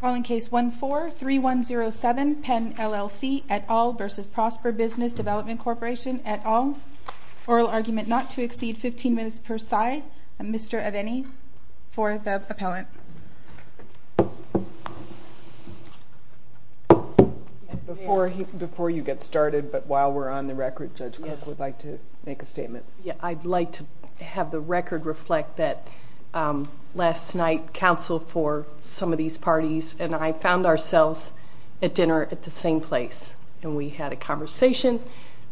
Calling case 14-3107 Penn LLC et al. v. Prosper Business Development Corporation et al. Oral argument not to exceed 15 minutes per side. Mr. Aveni for the appellant. Before you get started but while we're on the record Judge Cook would like to make a statement. Yeah I'd like to have the floor for some of these parties and I found ourselves at dinner at the same place and we had a conversation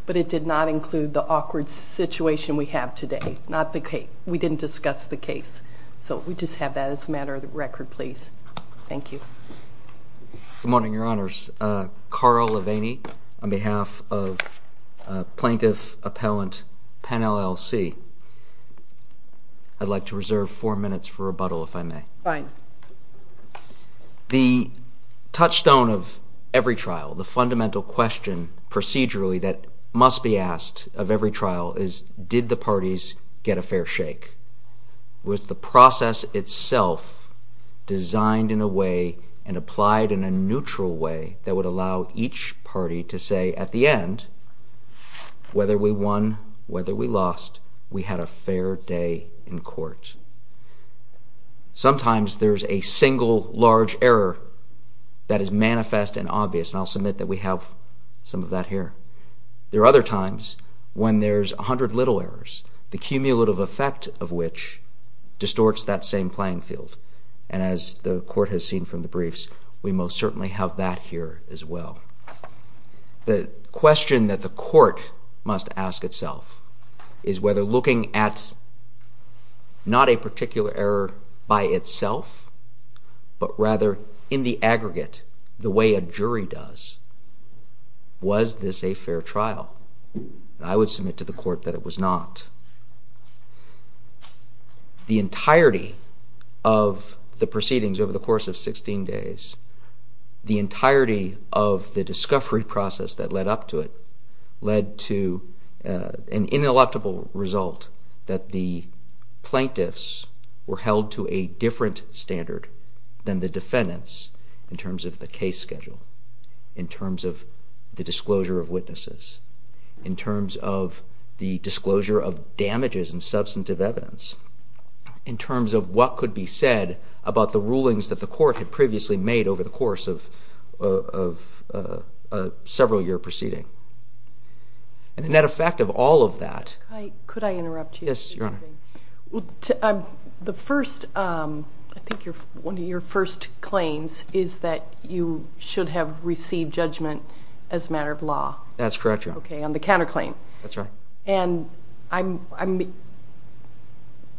but it did not include the awkward situation we have today not the case we didn't discuss the case so we just have that as a matter of the record please. Thank you. Good morning your honors Carl Aveni on behalf of plaintiff appellant Penn LLC I'd like to reserve four minutes for the touchstone of every trial the fundamental question procedurally that must be asked of every trial is did the parties get a fair shake was the process itself designed in a way and applied in a neutral way that would allow each party to say at the end whether we won whether we lost we had a fair day in a single large error that is manifest and obvious I'll submit that we have some of that here there are other times when there's a hundred little errors the cumulative effect of which distorts that same playing field and as the court has seen from the briefs we most certainly have that here as well the question that the court must ask itself is whether looking at not a particular error by itself but rather in the aggregate the way a jury does was this a fair trial I would submit to the court that it was not the entirety of the proceedings over the course of 16 days the entirety of the discovery process that led up to it led to an ineluctable result that the plaintiffs were held to a different standard than the defendants in terms of the case schedule in terms of the disclosure of witnesses in terms of the disclosure of damages and substantive evidence in terms of what could be said about the rulings that the court had and the net effect of all of that could I interrupt you yes your honor well the first I think you're one of your first claims is that you should have received judgment as a matter of law that's correct okay on the counterclaim that's right and I'm I mean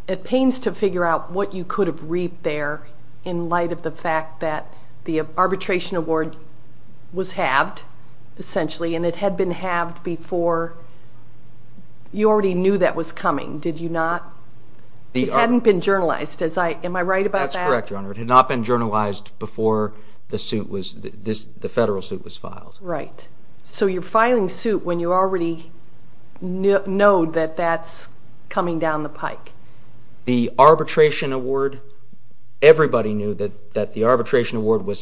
it pains to figure out what you could have reaped there in light of the fact that the arbitration award was halved essentially and it had been halved before you already knew that was coming did you not the hadn't been journalized as I am I right about that's correct your honor it had not been journalized before the suit was this the federal suit was filed right so you're filing suit when you already know that that's coming down the pike the arbitration award everybody knew that that the arbitration award was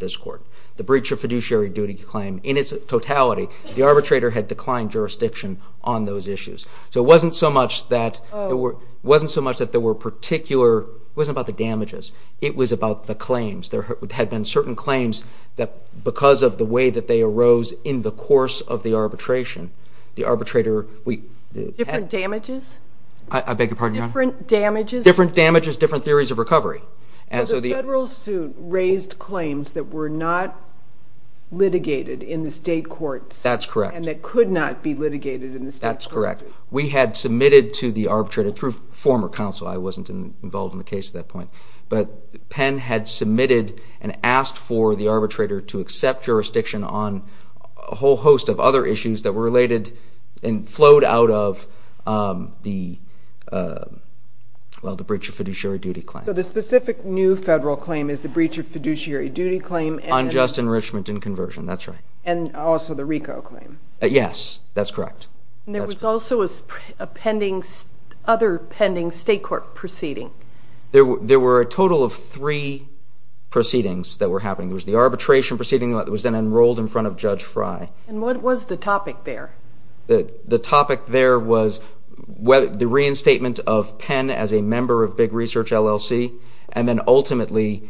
this court the breach of fiduciary duty claim in its totality the arbitrator had declined jurisdiction on those issues so it wasn't so much that there were wasn't so much that there were particular wasn't about the damages it was about the claims there had been certain claims that because of the way that they arose in the course of the arbitration the arbitrator we damages I beg your pardon your different damages different damages different theories of claims that were not litigated in the state courts that's correct and that could not be litigated in this that's correct we had submitted to the arbitrator through former counsel I wasn't involved in the case at that point but Penn had submitted and asked for the arbitrator to accept jurisdiction on a whole host of other issues that were related and flowed out of the well the breach of fiduciary duty claim so the specific new federal claim is the breach of fiduciary duty claim unjust enrichment and conversion that's right and also the RICO claim yes that's correct and there was also a pending other pending state court proceeding there were there were a total of three proceedings that were happening was the arbitration proceeding that was then enrolled in front of Judge Frye and what was the topic there the the topic there was whether the reinstatement of Penn as a member of big research LLC and then ultimately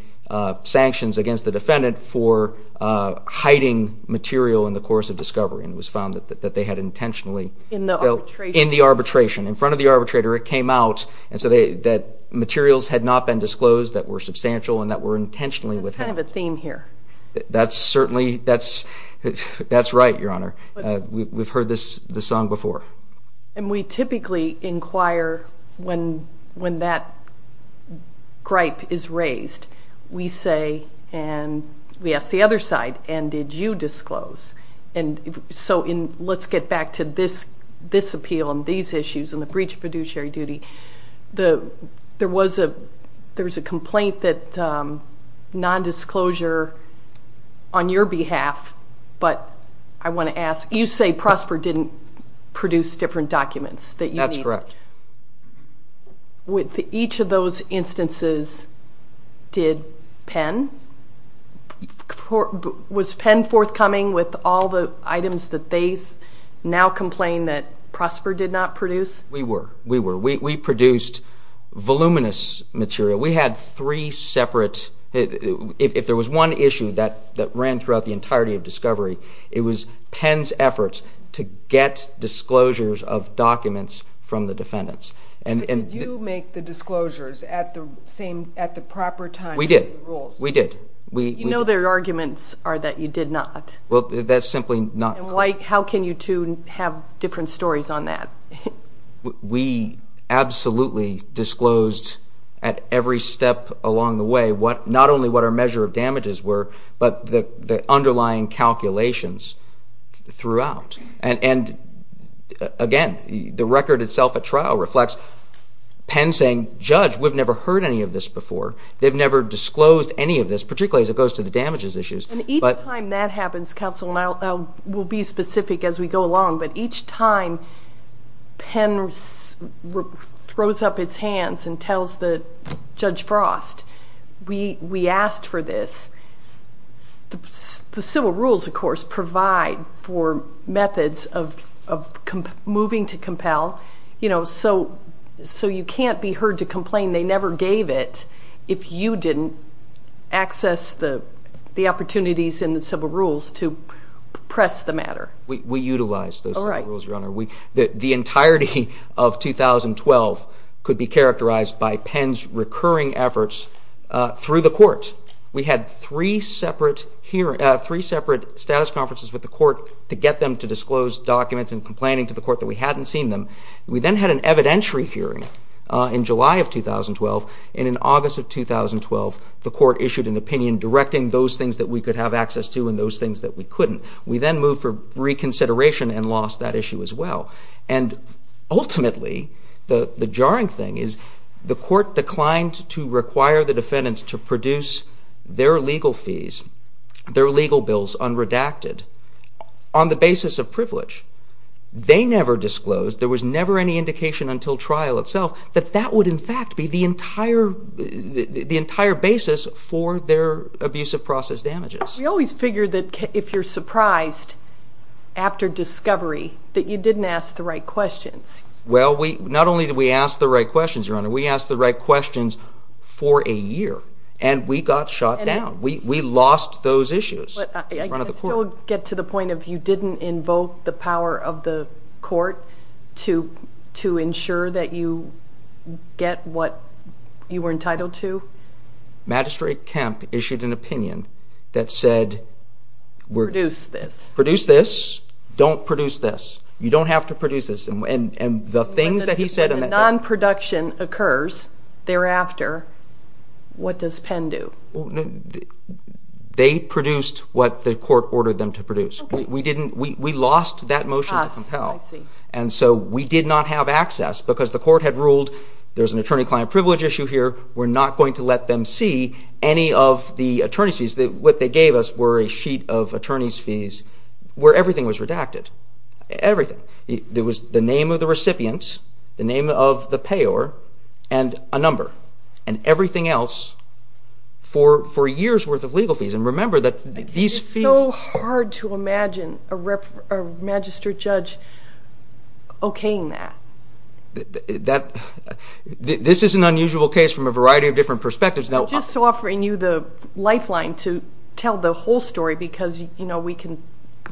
sanctions against the defendant for hiding material in the course of discovery and was found that that they had intentionally in the in the arbitration in front of the arbitrator it came out and so they that materials had not been disclosed that were substantial and that were intentionally with kind of a theme here that's certainly that's that's right your honor we've heard this the song before and we typically inquire when when that gripe is raised we say and we ask the other side and did you disclose and so in let's get back to this this appeal and these issues and the breach of fiduciary duty the there was a there was a complaint that non-disclosure on your behalf but I want to ask you say Prosper didn't produce different documents that you that's correct with each of those instances did Penn was Penn forthcoming with all the items that they now complain that Prosper did not produce we were we were we produced voluminous material we had three separate if there was one issue that that ran throughout the entirety of discovery it was Penn's efforts to get disclosures of documents from the defendants and and you make the disclosures at the same at the proper time we did we did we know their arguments are that you did not well that's simply not like how can you to have different stories on that we absolutely disclosed at every step along the way what not only what our measure of damages were but the underlying calculations throughout and and again the record itself a trial reflects Penn saying judge we've never heard any of this before they've never disclosed any of this particularly as it goes to the damages issues but time that happens council now will be specific as we go along but each time Penn throws up its we we asked for this the civil rules of course provide for methods of moving to compel you know so so you can't be heard to complain they never gave it if you didn't access the the opportunities in the civil rules to press the matter we utilize those rules your honor we that the entirety of 2012 could be efforts through the court we had three separate here at three separate status conferences with the court to get them to disclose documents and complaining to the court that we hadn't seen them we then had an evidentiary hearing in July of 2012 and in August of 2012 the court issued an opinion directing those things that we could have access to and those things that we couldn't we then move for reconsideration and lost that issue as well and ultimately the the jarring thing is the court declined to require the defendants to produce their legal fees their legal bills on redacted on the basis of privilege they never disclosed there was never any indication until trial itself that that would in fact be the entire the entire basis for their abuse of process damages we always figured that if you're surprised after discovery that you didn't ask the right we asked the right questions for a year and we got shot down we lost those issues get to the point of you didn't invoke the power of the court to to ensure that you get what you were entitled to magistrate camp issued an opinion that said we're going to produce this don't produce this you don't have to produce this and and and the things that he said and non-production occurs thereafter what does Penn do they produced what the court ordered them to produce we didn't we lost that motion and so we did not have access because the court had ruled there's an attorney-client privilege issue here we're not going to let them see any of the attorneys fees that what they gave us were a sheet of attorneys fees where everything was redacted everything there was the name of the recipients the name of the payor and a number and everything else for four years worth of legal fees and remember that these feel hard to imagine a registered judge okaying that that this is an unusual case from a variety of different perspectives now just offering you the lifeline to tell the whole story because you know we can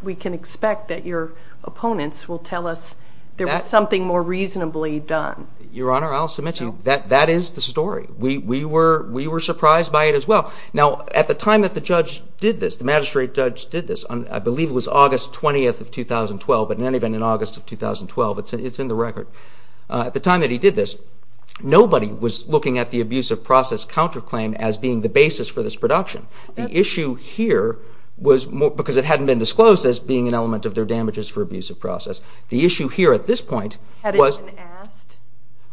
we can expect that your opponents will tell us that something more reasonably done your honor I'll submit to you that that is the story we we were we were surprised by it as well now at the time that the judge did this the magistrate judge did this on I believe it was August 20th of 2012 but in any event in August of 2012 it's in the record at the time that he did this nobody was looking at the abusive process counterclaim as being the basis for this production the issue here was more because it hadn't been disclosed as being an element of their damages for abusive process the issue here at this point was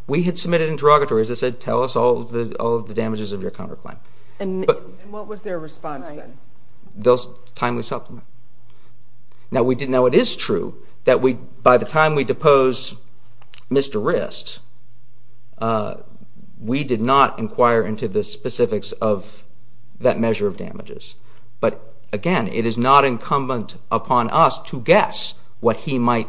we had submitted interrogatories I said tell us all the all the damages of your counterclaim and what was their response then those timely supplement now we didn't know it is true that we by the time we depose mr. wrist we did not inquire into the specifics of that he might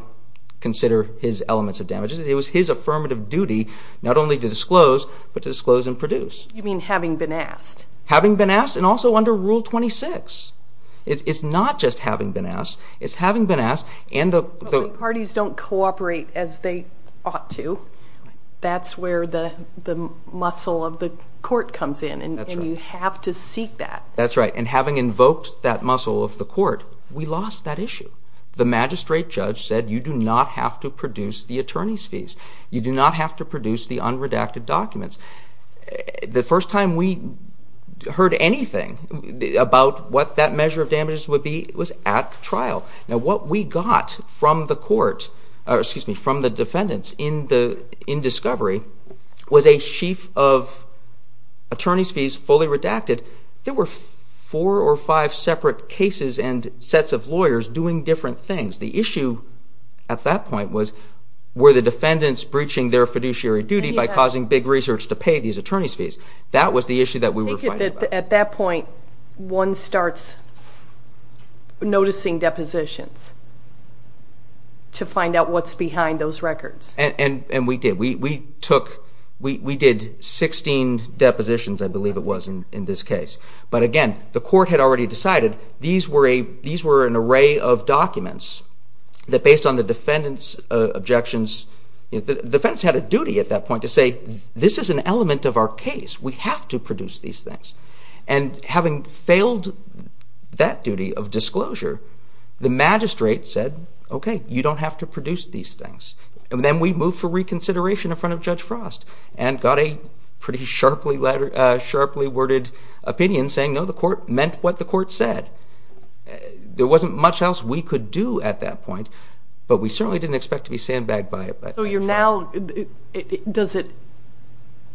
consider his elements of damages it was his affirmative duty not only to disclose but to disclose and produce you mean having been asked having been asked and also under rule 26 it's not just having been asked it's having been asked and the parties don't cooperate as they ought to that's where the muscle of the court comes in and you have to seek that that's right and having invoked that muscle of the court we lost that issue the magistrate judge said you do not have to produce the attorney's fees you do not have to produce the unredacted documents the first time we heard anything about what that measure of damages would be it was at trial now what we got from the court or excuse me from the defendants in the in discovery was a sheaf of attorney's fees fully redacted there were four or five separate cases and sets of lawyers doing different things the issue at that point was were the defendants breaching their fiduciary duty by causing big research to pay these attorneys fees that was the issue that we were at that point one starts noticing depositions to find out what's behind those records and and we did we took we did 16 depositions I believe it was in this case but again the court had already decided these were a these were an array of documents that based on the defendants objections the defense had a duty at that point to say this is an element of our case we have to produce these things and having failed that duty of disclosure the magistrate said okay you don't have to produce these things and then we move for reconsideration in front of Judge Frost and got a pretty letter sharply worded opinion saying no the court meant what the court said there wasn't much else we could do at that point but we certainly didn't expect to be sandbagged by it so you're now does it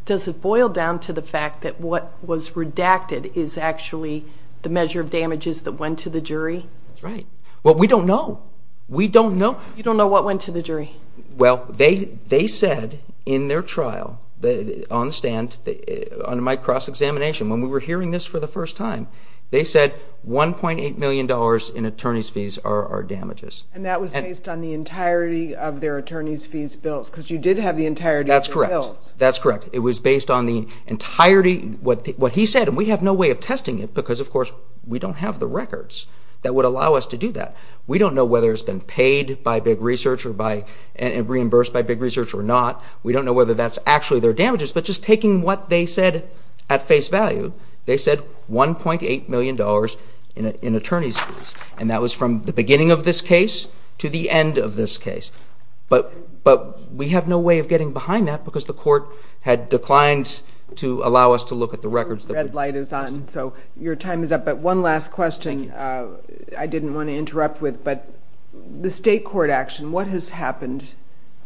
does it boil down to the fact that what was redacted is actually the measure of damages that went to the jury that's right well we don't know we don't know you don't know what went to the jury well they they said in their trial that on the stand that on my cross-examination when we were hearing this for the first time they said 1.8 million dollars in attorneys fees are our damages and that was based on the entirety of their attorneys fees bills because you did have the entirety that's correct that's correct it was based on the entirety what what he said and we have no way of testing it because of course we don't have the records that would allow us to do that we don't know whether it's been paid by big research or by and reimbursed by big research or not we don't know whether that's actually their damages but just taking what they said at face value they said 1.8 million dollars in attorneys fees and that was from the beginning of this case to the end of this case but but we have no way of getting behind that because the court had declined to allow us to look at the records the red light is on so your time is up but one last question I didn't want to interrupt with but the state court action what has happened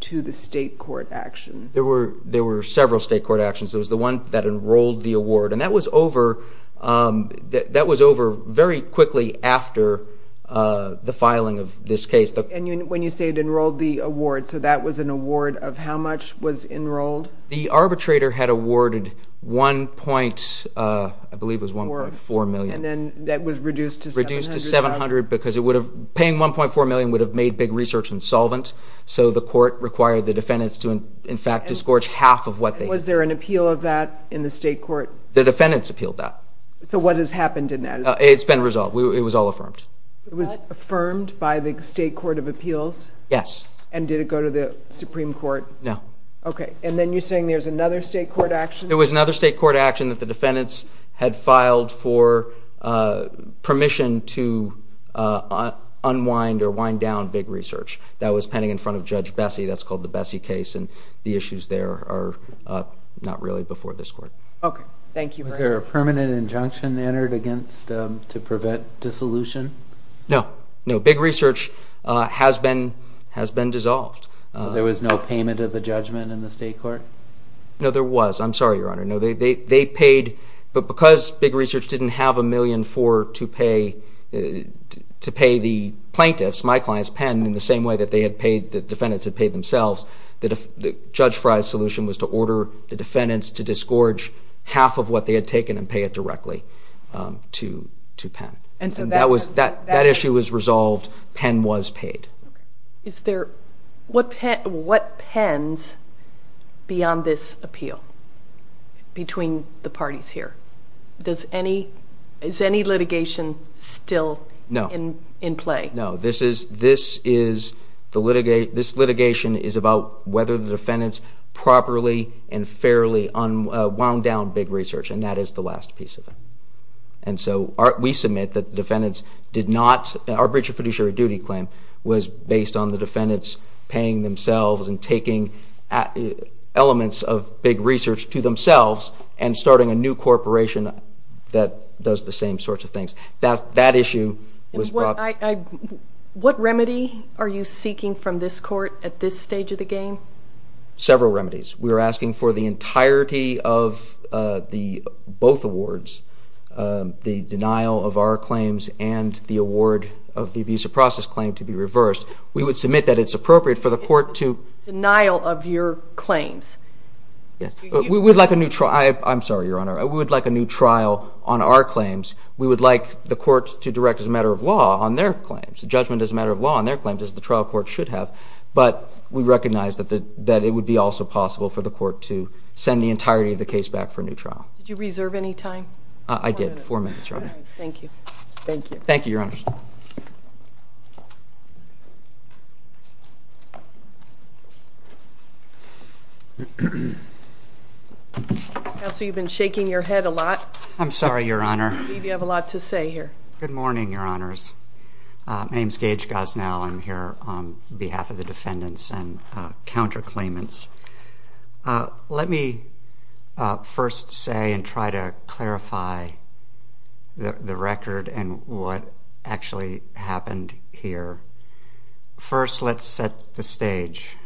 to the state court action there were there were several state court actions it was the one that enrolled the award and that was over that was over very quickly after the filing of this case and when you say it enrolled the award so that was an award of how much was enrolled the arbitrator had awarded 1.4 million and then that was reduced to 700 because it would have paying 1.4 million would have made big research and solvent so the court required the defendants to in fact disgorge half of what they was there an appeal of that in the state court the defendants appealed that so what has happened in that it's been resolved it was all affirmed it was affirmed by the state court of appeals yes and did it go to the Supreme Court no okay and then you're saying there's another state court action there was another state court action that the defendants had filed for permission to unwind or wind down big research that was pending in front of Judge Bessie that's called the Bessie case and the issues there are not really before this court okay thank you was there a permanent injunction entered against to prevent dissolution no no big research has been has been dissolved there was no payment of the judgment in the state court no there was I'm sorry your honor no they they paid but because big research didn't have a million for to pay to pay the plaintiffs my clients pen in the same way that they had paid the defendants had paid themselves that if the judge fries solution was to order the defendants to disgorge half of what they had taken and pay it directly to to pen and so that was that that issue was resolved pen was paid is there what pet what pens beyond this appeal between the parties here does any is any litigation still no in in play no this is this is the litigate this litigation is about whether the defendants properly and fairly on wound down big research and that is the last piece of it and so art we submit that defendants did not our British fiduciary duty claim was based on the defendants paying themselves and taking elements of big research to themselves and starting a new corporation that does the same sorts of things that that issue what remedy are you seeking from this court at this stage of the game several remedies we're asking for the entirety of the both awards the denial of our claims and the award of the visa process claim to be reversed we would submit that it's appropriate for the court to denial of your claims we would like a neutral I I'm sorry your honor I would like a new trial on our claims we would like the court to direct as a matter of law on their claims judgment as a matter of law on their claims as the trial court should have but we recognize that the that it would be also possible for the court to send the thank you thank you your honor so you've been shaking your head a lot I'm sorry your honor you have a lot to say here good morning your honors my name is Gage Gosnell I'm here on behalf of the defendants and counter claimants let me first say and try to clarify the record and what actually happened here first let's set the stage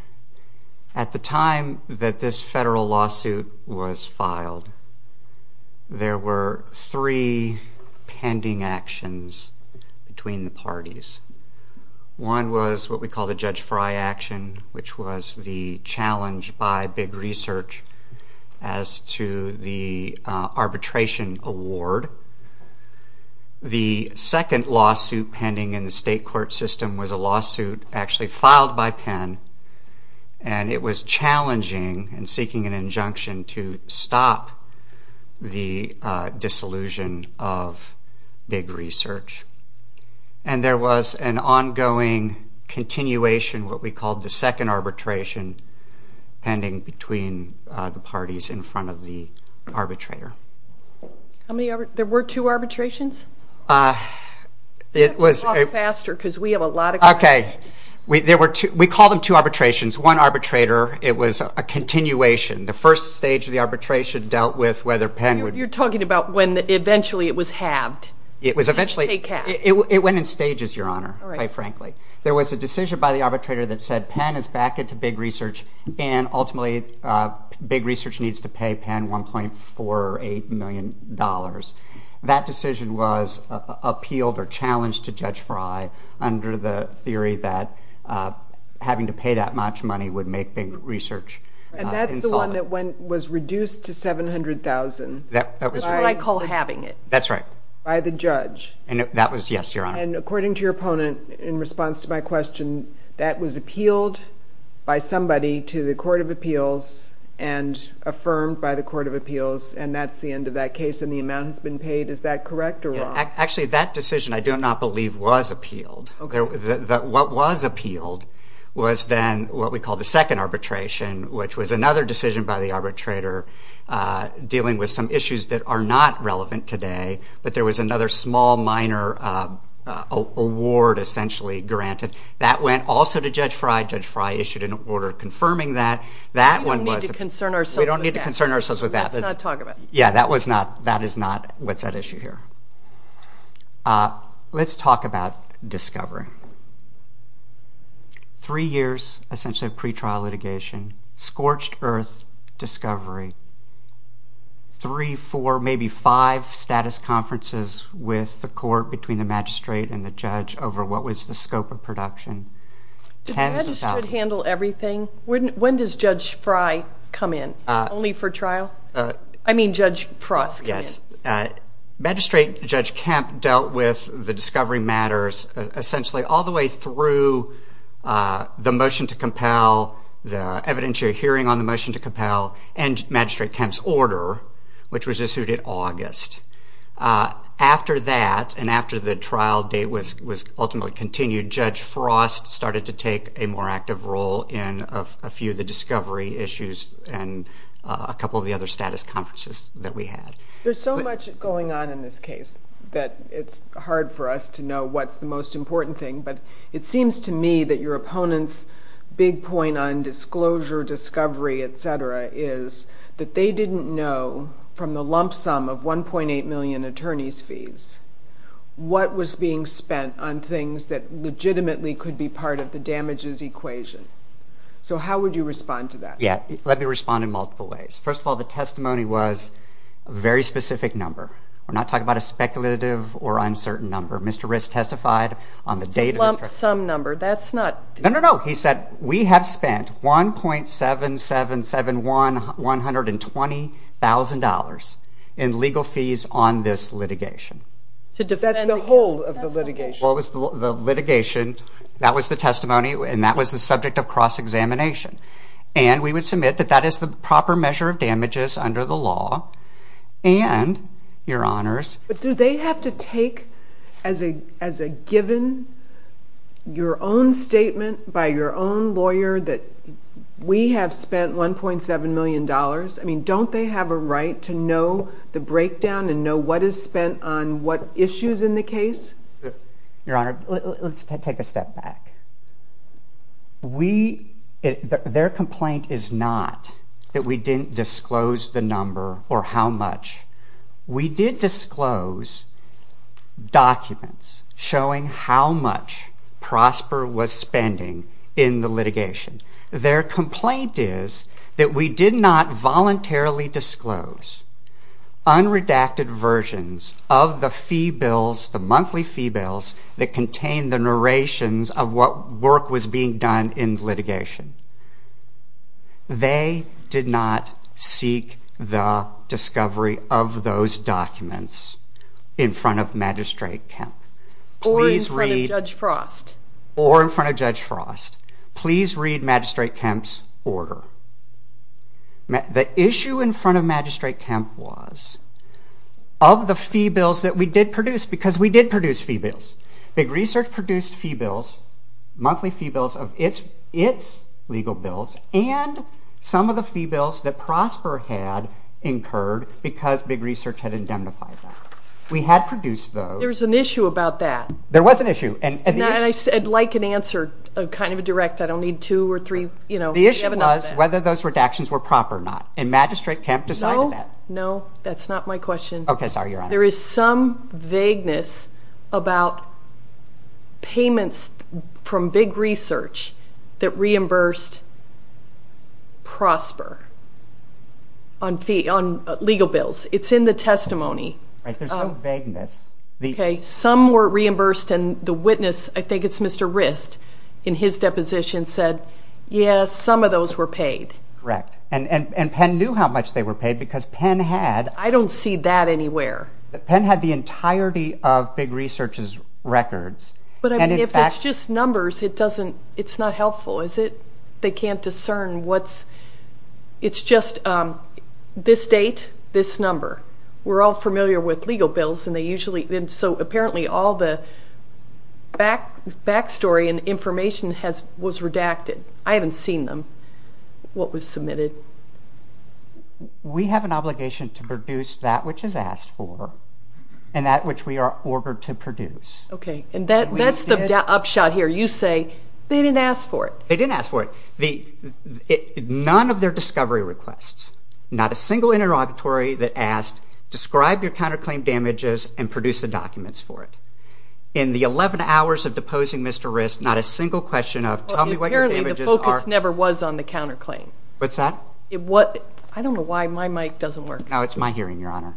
at the time that this federal lawsuit was filed there were three pending actions between the parties one was what we call the judge fry action which was the challenge by big research as to the arbitration award the second lawsuit pending in the state court system was a lawsuit actually filed by pen and it was challenging and seeking an injunction to stop the disillusion of big research and there was an ongoing continuation what we called the second arbitration pending between the parties in front of the arbitrator I mean there were two arbitrations it was faster because we have a lot of okay we there were two we call them two arbitrations one arbitrator it was a continuation the first stage of the arbitration dealt with whether pen you're talking about when eventually it was halved it was eventually it went in stages your honor quite frankly there was a decision by the arbitrator that said pen is back into big research and ultimately big research needs to pay pen 1.48 million dollars that decision was appealed or challenged to judge fry under the theory that having to pay that much money would make big research and that's the one was reduced to 700,000 that was what I call having it that's right by the judge and that was yes your honor and according to your opponent in response to my question that was appealed by somebody to the Court of Appeals and affirmed by the Court of Appeals and that's the end of that case and the amount has been paid is that correct or wrong actually that decision I do not believe was appealed okay that what was appealed was then what we call the arbitrator dealing with some issues that are not relevant today but there was another small minor award essentially granted that went also to judge fry judge fry issued an order confirming that that one was concern ourselves we don't need to concern ourselves with that let's not talk about yeah that was not that is not what's that issue here let's talk about discovery three years essentially of pretrial litigation scorched-earth discovery three four maybe five status conferences with the court between the magistrate and the judge over what was the scope of production to handle everything wouldn't when does judge fry come in only for trial I mean judge frost yes magistrate judge camp dealt with the discovery matters essentially all the way through the motion to compel the evidentiary hearing on the motion to compel and magistrate Kemp's order which was issued in August after that and after the trial date was was ultimately continued judge frost started to take a more active role in a few of the discovery issues and a couple of the other status conferences that we had there's so much going on in this case that it's hard for us to know what's the most important thing but it seems to me that your opponents big point on disclosure discovery etc is that they didn't know from the lump sum of 1.8 million attorneys fees what was being spent on things that legitimately could be part of the damages equation so how would you respond to that yeah let me respond in multiple ways first of all the testimony was a very specific number we're not talking about a speculative or uncertain number mr. wrist testified on the date of some number that's not no no he said we have spent 1.7 7 7 1 120 thousand dollars in legal fees on this litigation to defend the whole of the litigation what was the litigation that was the testimony and that was the subject of cross-examination and we would submit that that is the proper measure of damages under the law and your honors but do they have to take as a as a given your own statement by your own lawyer that we have spent 1.7 million dollars I mean don't they have a right to know the breakdown and know what is spent on what issues in the case your honor let's take a step back we their complaint is not that we didn't disclose the number or how much we did disclose documents showing how much prosper was spending in the litigation their complaint is that we did not that contained the narrations of what work was being done in litigation they did not seek the discovery of those documents in front of magistrate Kemp please read judge frost or in front of judge frost please read magistrate Kemp's order the issue in front of magistrate Kemp was of the fee bills that we did because we did produce fee bills big research produced fee bills monthly fee bills of its its legal bills and some of the fee bills that prosper had incurred because big research had indemnified that we had produced those there's an issue about that there was an issue and I said like an answer a kind of a direct I don't need two or three you know the issue was whether those redactions were proper or not and magistrate Kemp decided that no that's not my question okay sorry your honor there is some vagueness about payments from big research that reimbursed prosper on fee on legal bills it's in the testimony vagueness okay some were reimbursed and the witness I think it's mr. wrist in his deposition said yes some of those were paid correct and and Penn knew how much they were paid because Penn had I don't see that anywhere that Penn had the entirety of big research's records but if it's just numbers it doesn't it's not helpful is it they can't discern what's it's just this date this number we're all familiar with legal bills and they usually then so apparently all the back backstory and information has was redacted I haven't seen them what was submitted we have an obligation to produce that which is asked for and that which we are ordered to produce okay and that that's the upshot here you say they didn't ask for it they didn't ask for it the none of their discovery requests not a single interrogatory that asked describe your counterclaim damages and produce the documents for it in the 11 hours of was on the counterclaim what's that it what I don't know why my mic doesn't work now it's my hearing your honor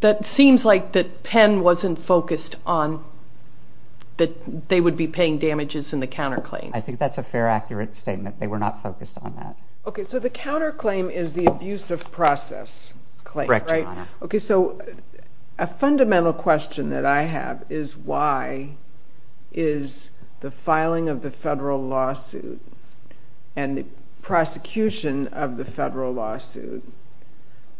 that seems like that Penn wasn't focused on that they would be paying damages in the counterclaim I think that's a fair accurate statement they were not focused on that okay so the counterclaim is the abuse of process claim right okay so a fundamental question that I have is why is the filing of the federal lawsuit and the prosecution of the federal lawsuit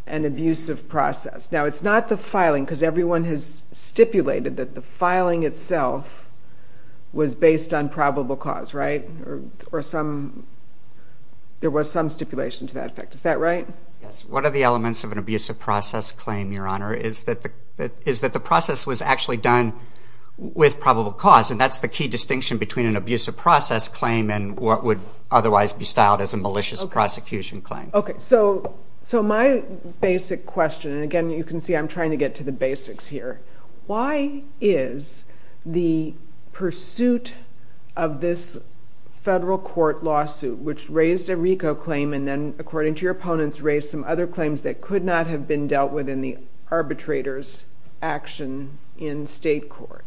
an abusive process now it's not the filing because everyone has stipulated that the filing itself was based on probable cause right or some there was some stipulation to that effect is that right yes what are the elements of an abusive process claim your honor is that the is that the cause and that's the key distinction between an abusive process claim and what would otherwise be styled as a malicious prosecution claim okay so so my basic question and again you can see I'm trying to get to the basics here why is the pursuit of this federal court lawsuit which raised a RICO claim and then according to your opponents raised some other claims that could not have been dealt with in the arbitrators action in state court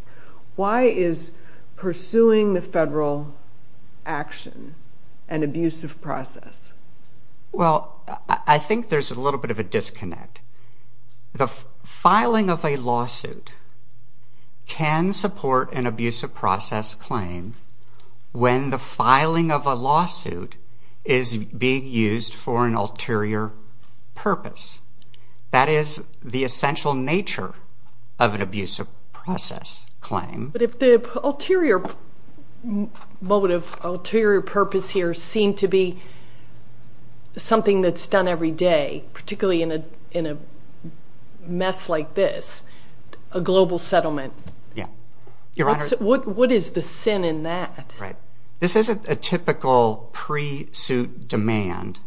why is pursuing the federal action an abusive process well I think there's a little bit of a disconnect the filing of a lawsuit can support an abusive process claim when the filing of a lawsuit is being used for an ulterior purpose that is the essential nature of an abusive process claim but if the ulterior motive ulterior purpose here seemed to be something that's done every day particularly in a in a mess like this a global settlement yeah your honor what what is the sin in that right this isn't a typical pre suit demand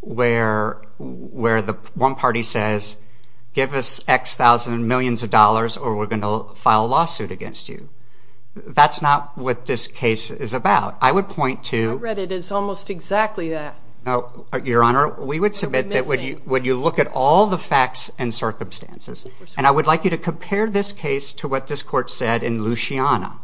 where where the one party says give us X thousand millions of dollars or we're going to file a lawsuit against you that's not what this case is about I would point to read it it's almost exactly that no your honor we would submit that would you would you look at all the facts and circumstances and I would like you to compare this case to what this court said in Luciana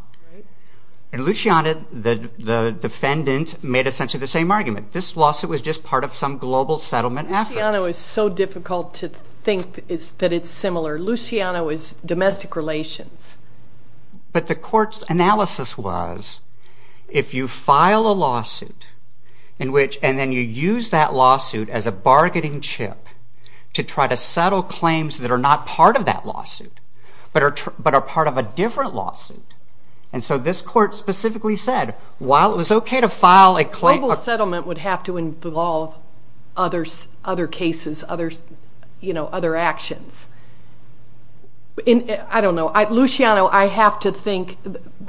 and Luciana the defendant made essentially the same argument this lawsuit was just part of some global settlement after it was so difficult to think is that it's similar Luciano is domestic relations but the court's analysis was if you file a lawsuit in which and then you use that lawsuit as a bargaining chip to try to settle claims that are not part of that lawsuit but are but are part of a different lawsuit and so this court specifically said while it was okay to file a claim settlement would have to involve others other cases others you know other actions in I don't know I Luciano I have to think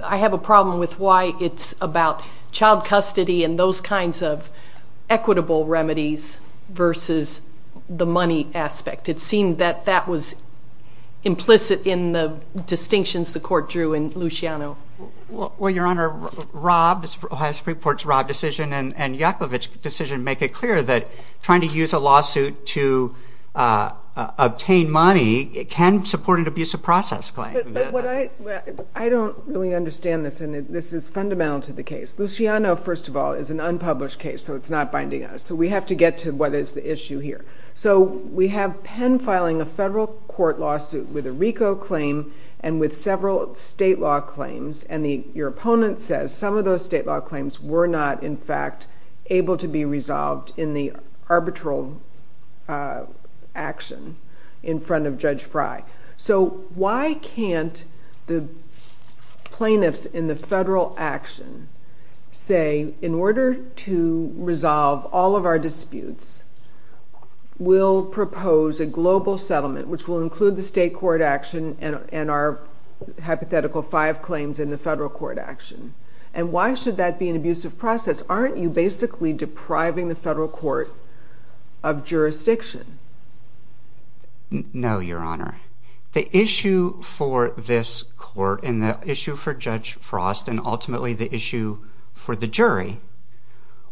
I have a problem with why it's about child custody and those kinds of equitable remedies versus the money aspect it seemed that that was implicit in the distinctions the court drew in Luciano well your honor Rob has reports Rob decision and Yakovic decision make it clear that trying to use a lawsuit to obtain money it can support an abuse of process claim I don't really understand this and this is fundamental to the case Luciano first of all is an unpublished case so it's not binding us so we have to get to what is the issue here so we have Penn filing a federal court lawsuit with a RICO claim and with several state law claims and the your opponent says some of those state law claims were not in fact able to be resolved in the arbitral action in front of Judge Fry so why can't the plaintiffs in the federal action say in order to resolve all of our disputes we'll propose a global settlement which will include the state court action and our hypothetical five claims in the federal court action and why should that be an abusive process aren't you basically depriving the issue for this court in the issue for Judge Frost and ultimately the issue for the jury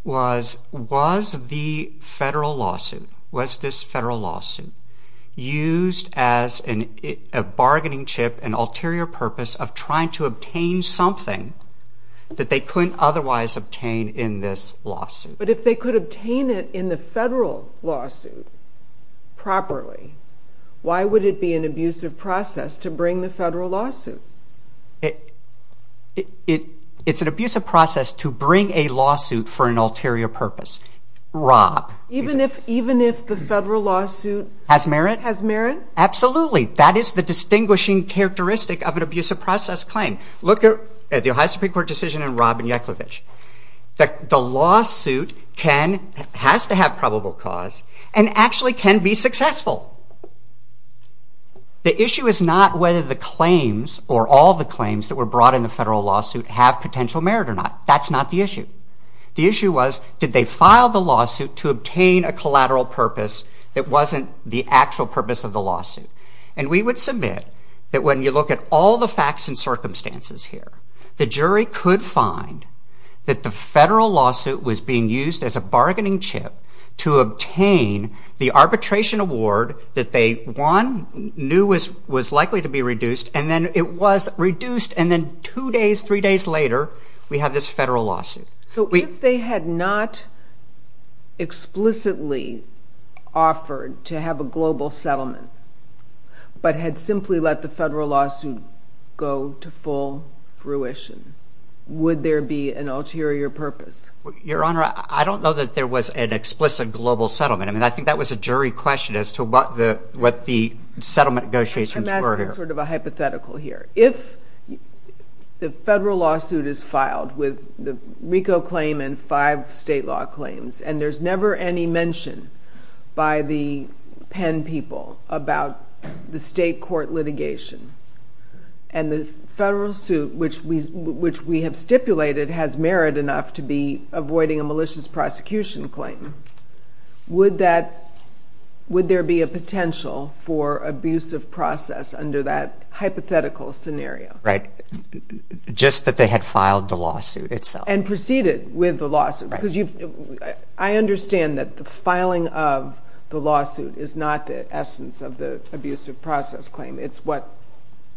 was was the federal lawsuit was this federal lawsuit used as an bargaining chip and ulterior purpose of trying to obtain something that they couldn't otherwise obtain in this lawsuit but if they could obtain it in the federal lawsuit properly why would it be an abusive process to bring the federal lawsuit it it it's an abusive process to bring a lawsuit for an ulterior purpose Rob even if even if the federal lawsuit has merit has merit absolutely that is the distinguishing characteristic of an abusive process claim look at the Ohio Supreme Court decision and Robin Yankovich that the probable cause and actually can be successful the issue is not whether the claims or all the claims that were brought in the federal lawsuit have potential merit or not that's not the issue the issue was did they file the lawsuit to obtain a collateral purpose that wasn't the actual purpose of the lawsuit and we would submit that when you look at all the facts and circumstances here the jury could find that the federal lawsuit was being used as a bargaining chip to obtain the arbitration award that they won knew was was likely to be reduced and then it was reduced and then two days three days later we have this federal lawsuit so if they had not explicitly offered to have a global settlement but had simply let the federal lawsuit go to full fruition would there be an ulterior purpose your honor I don't know that there was an explicit global settlement I mean I think that was a jury question as to what the what the settlement negotiations were here. I'm asking sort of a hypothetical here if the federal lawsuit is filed with the RICO claim and five state law claims and there's never any mention by the Penn people about the state court litigation and the federal suit which we which we have stipulated has merit enough to be avoiding a malicious prosecution claim would that would there be a potential for abuse of process under that hypothetical scenario right just that they had filed the lawsuit itself and proceeded with the lawsuit because you I understand that the filing of the lawsuit is not the essence of the abuse of process claim it's what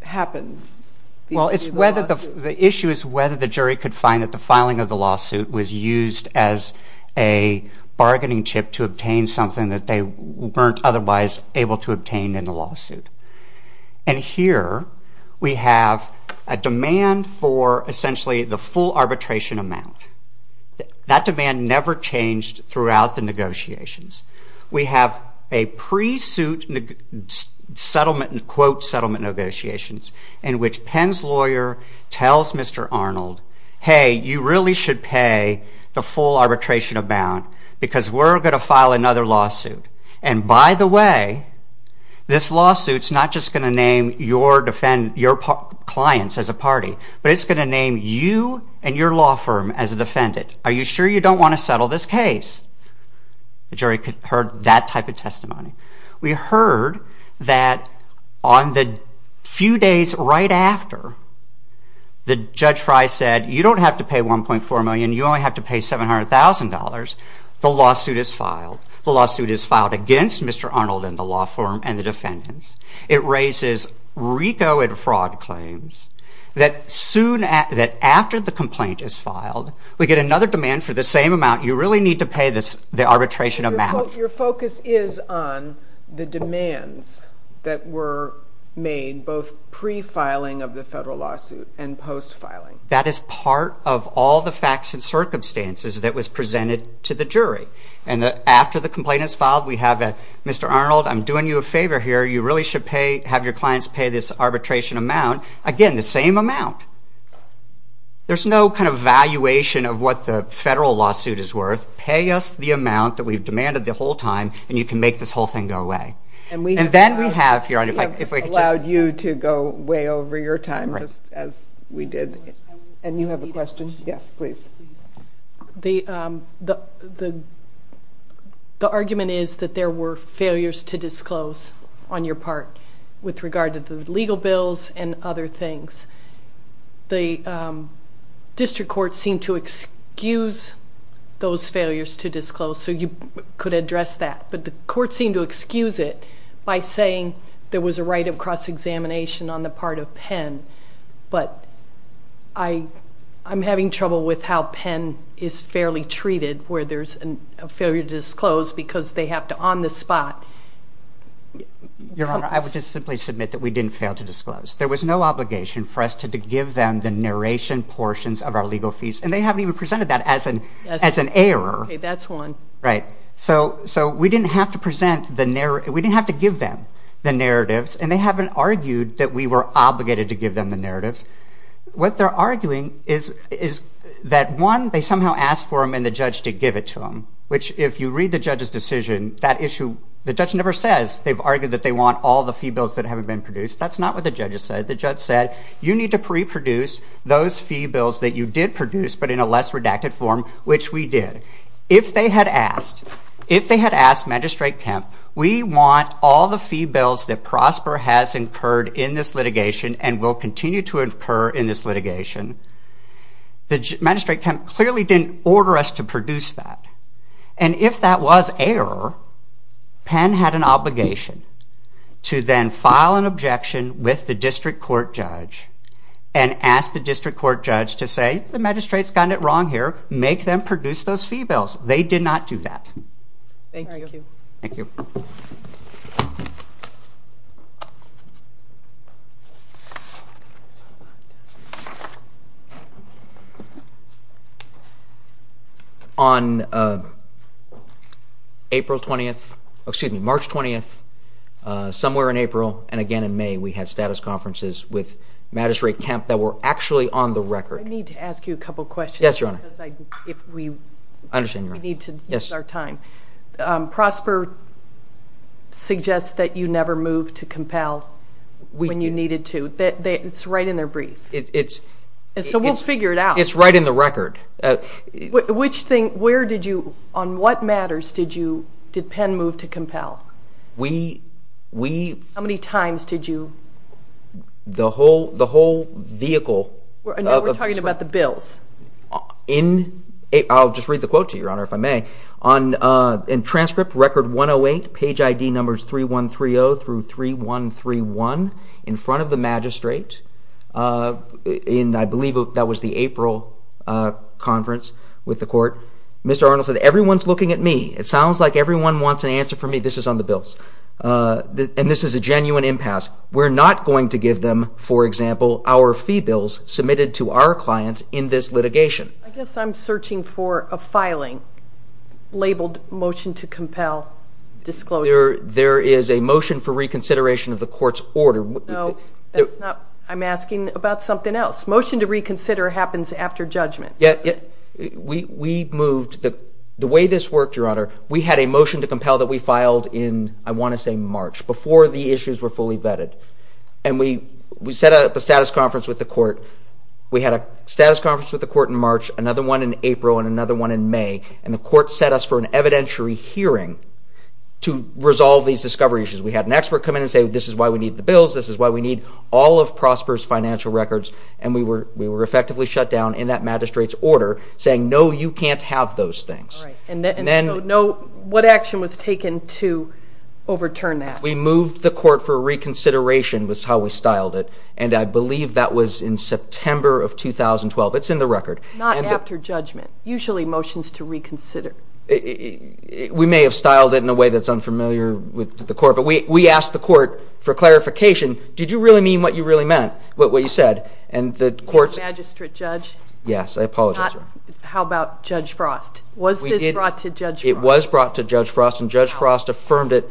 happens well it's whether the issue is whether the jury could find that the filing of the lawsuit was used as a bargaining chip to obtain something that they weren't otherwise able to obtain in the lawsuit and here we have a demand for essentially the full arbitration amount that demand never changed throughout the negotiations we have a settlement quote settlement negotiations in which Penn's lawyer tells Mr. Arnold hey you really should pay the full arbitration amount because we're going to file another lawsuit and by the way this lawsuits not just going to name your defend your clients as a party but it's going to name you and your law firm as a defendant are you sure you don't want to settle this case? The jury heard that type of testimony. We heard that on the few days right after the judge Fry said you don't have to pay 1.4 million you only have to pay $700,000 the lawsuit is filed the lawsuit is filed against Mr. Arnold and the law firm and the defendants it raises RICO and fraud claims that soon after the complaint is filed we get another demand for the same amount you really need to focus is on the demands that were made both pre-filing of the federal lawsuit and post-filing that is part of all the facts and circumstances that was presented to the jury and after the complaint is filed we have a Mr. Arnold I'm doing you a favor here you really should pay have your clients pay this arbitration amount again the same amount there's no kind of valuation of what the federal lawsuit is worth pay us the amount that we've demanded the whole time and you can make this whole thing go away and we and then we have here allowed you to go way over your time as we did and you have a question yes please the the the argument is that there were failures to disclose on your part with regard to the legal bills and other things the district court seemed to excuse those failures to disclose so you could address that but the court seemed to excuse it by saying there was a right of cross-examination on the part of Penn but I I'm having trouble with how Penn is fairly treated where there's a failure to disclose because they have to on the spot your honor I would just simply submit that we didn't fail to disclose there was no obligation for us to give them the narration portions of our legal fees and they haven't even presented that as an as an error that's one right so so we didn't have to present the narrative we didn't have to give them the narratives and they haven't argued that we were obligated to give them the narratives what they're arguing is is that one they somehow asked for him and the judge to give it to him which if you read the judge's decision that issue the judge never says they've argued that they want all the fee bills that haven't been produced that's not what the judges said the judge said you need to pre-produce those fee bills that you did produce but in a less redacted form which we did if they had asked if they had asked magistrate Kemp we want all the fee bills that Prosper has incurred in this litigation and will continue to incur in this litigation the magistrate Kemp clearly didn't order us to produce that and if that was error Penn had an obligation to then file an objection with the district court judge and ask the district court judge to say the magistrates got it wrong here make them produce those fee bills they did not do that thank you on April 20th excuse me March 20th somewhere in April and again in May we had status conferences with magistrate Kemp that were actually on the record need to ask you a couple questions yes your honor if we understand you need to yes our time Prosper suggests that you never moved to compel when you needed to that it's right in their brief it's it's so we'll figure it out it's right in the record which thing where did you on what matters did you did Penn move to compel we we how many times did you the whole the whole vehicle we're talking about the bills in it I'll just read the quote to your honor if I may on in transcript record 108 page ID numbers 3 1 3 0 through 3 1 3 1 in front of the magistrate in I believe that was the April conference with the court mr. Arnold said everyone's looking at me it sounds like everyone wants an answer for me this is on the bills and this is a genuine impasse we're not going to give them for example our fee bills submitted to our clients in this litigation I guess I'm searching for a filing labeled motion to compel disclosure there is a motion for reconsideration of the court's order no I'm asking about something else motion to reconsider happens after judgment yeah we moved the way this worked your honor we had a motion to compel that we filed in I want to say March before the issues were fully vetted and we we set up a status conference with the court we had a status conference with the court in March another one in April and another one in May and the court set us for an evidentiary hearing to resolve these discovery issues we had an expert come in and say this is why we need the bills this is why we need all of Prosper's financial records and we were we were effectively shut down in that magistrates order saying no you can't have those things and then no what action was taken to overturn that we moved the court for reconsideration was how we styled it and I believe that was in September of 2012 it's in the record not after judgment usually motions to reconsider it we may have styled it in a way that's unfamiliar with the court but we asked the court for clarification did you really mean what you really meant but what you said and the courts magistrate judge yes I apologize how about judge frost was brought to judge it was brought to judge frost and judge frost affirmed it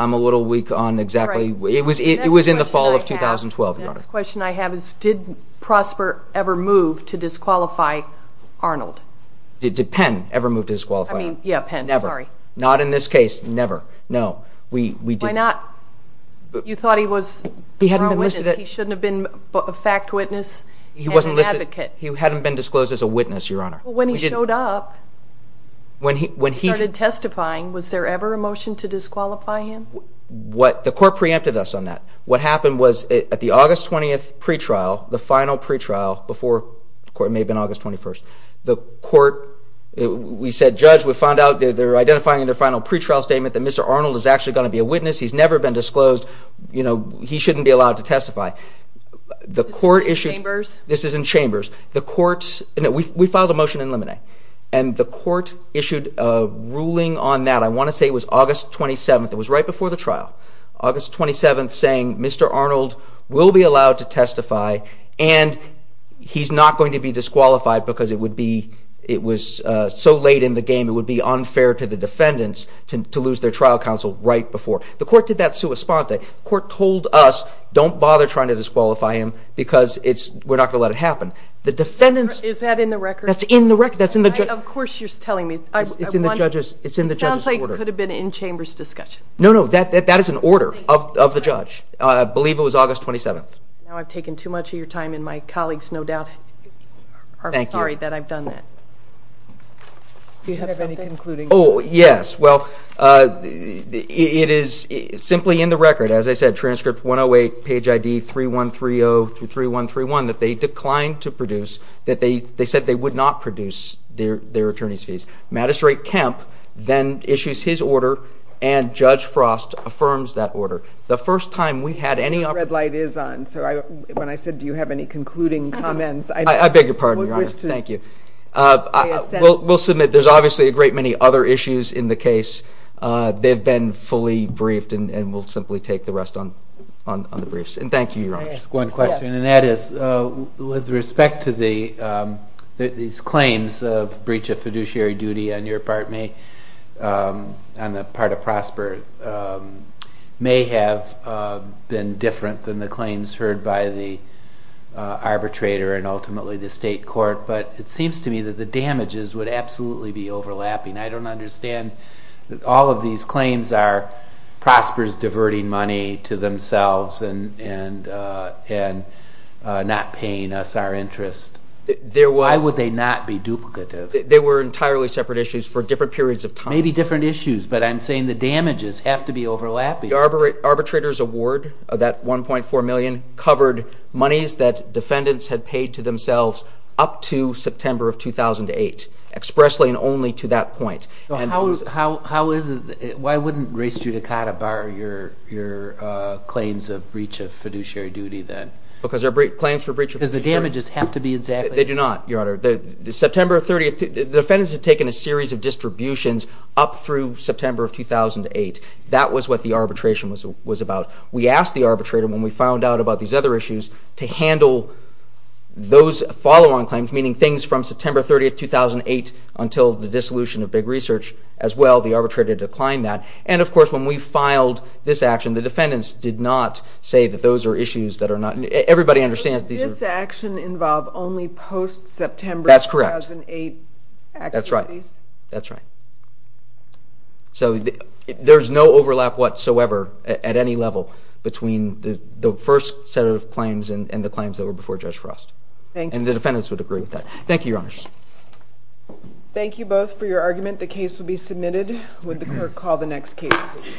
I'm a little weak on exactly what it was it was in the fall of 2012 question I have is did prosper ever move to disqualify Arnold did depend ever move to disqualify yeah never not in this case never no we we did not but you thought he was he hadn't he shouldn't have been but the fact witness he wasn't listed he hadn't been disclosed as a witness your honor when he showed up when he when he started testifying was there ever a motion to disqualify him what the court preempted us on that what happened was at the August 20th pretrial the final pretrial before the court may have been August 21st the court we said judge we found out they're identifying their final pretrial statement that mr. Arnold is actually going to be a witness he's never been disclosed you know he shouldn't be allowed to testify the court this is in chambers the courts and we filed a motion in limine and the court issued a ruling on that I want to say it was August 27th it was right before the trial August 27th saying mr. Arnold will be allowed to testify and he's not going to be disqualified because it would be it was so late in the game it would be unfair to the defendants to lose their trial counsel right before the court did that sua sponte court told us don't bother trying to disqualify him because it's we're not gonna let it happen the defendants is that in the record that's in the record that's in the judge of course you're telling me it's in the judges it's in the judges order could have been in chambers discussion no no that that is an order of the judge I believe it was August 27th now I've taken too much of your time in my colleagues no doubt thank you sorry that I've done that oh yes well it is simply in the record as I said transcript 108 page ID 3 1 3 0 2 3 1 3 1 that they declined to produce that they they said they would not produce their their attorneys fees magistrate Kemp then issues his order and judge frost affirms that order the first time we had any red light is on so I when I said do you have any concluding comments I beg your pardon your honor thank you well we'll submit there's obviously a great many other issues in the case they've been fully briefed and we'll simply take the rest on on the briefs and thank you your honor one question and that is with respect to the these claims of breach of fiduciary duty on your part me on the part of prosper may have been different than the claims heard by the arbitrator and ultimately the state court but it seems to me that the damages would absolutely be overlapping I don't understand that these claims are prospers diverting money to themselves and and and not paying us our interest there why would they not be duplicated they were entirely separate issues for different periods of time maybe different issues but I'm saying the damages have to be overlapping arboret arbitrators award of that 1.4 million covered monies that defendants had paid to themselves up to why wouldn't race judicata bar your your claims of breach of fiduciary duty then because they're brief claims for breach of the damages have to be exactly they do not your honor the September 30th defendants have taken a series of distributions up through September of 2008 that was what the arbitration was was about we asked the arbitrator when we found out about these other issues to handle those follow-on claims meaning things from September 30th 2008 until the dissolution of big research as well the arbitrator declined that and of course when we filed this action the defendants did not say that those are issues that are not everybody understands these action involve only post September that's correct in a that's right that's right so there's no overlap whatsoever at any level between the first set of claims and the claims that were before judge frost and the defendants would agree with that thank you honors thank you both for your argument the case will be submitted would the clerk call the next case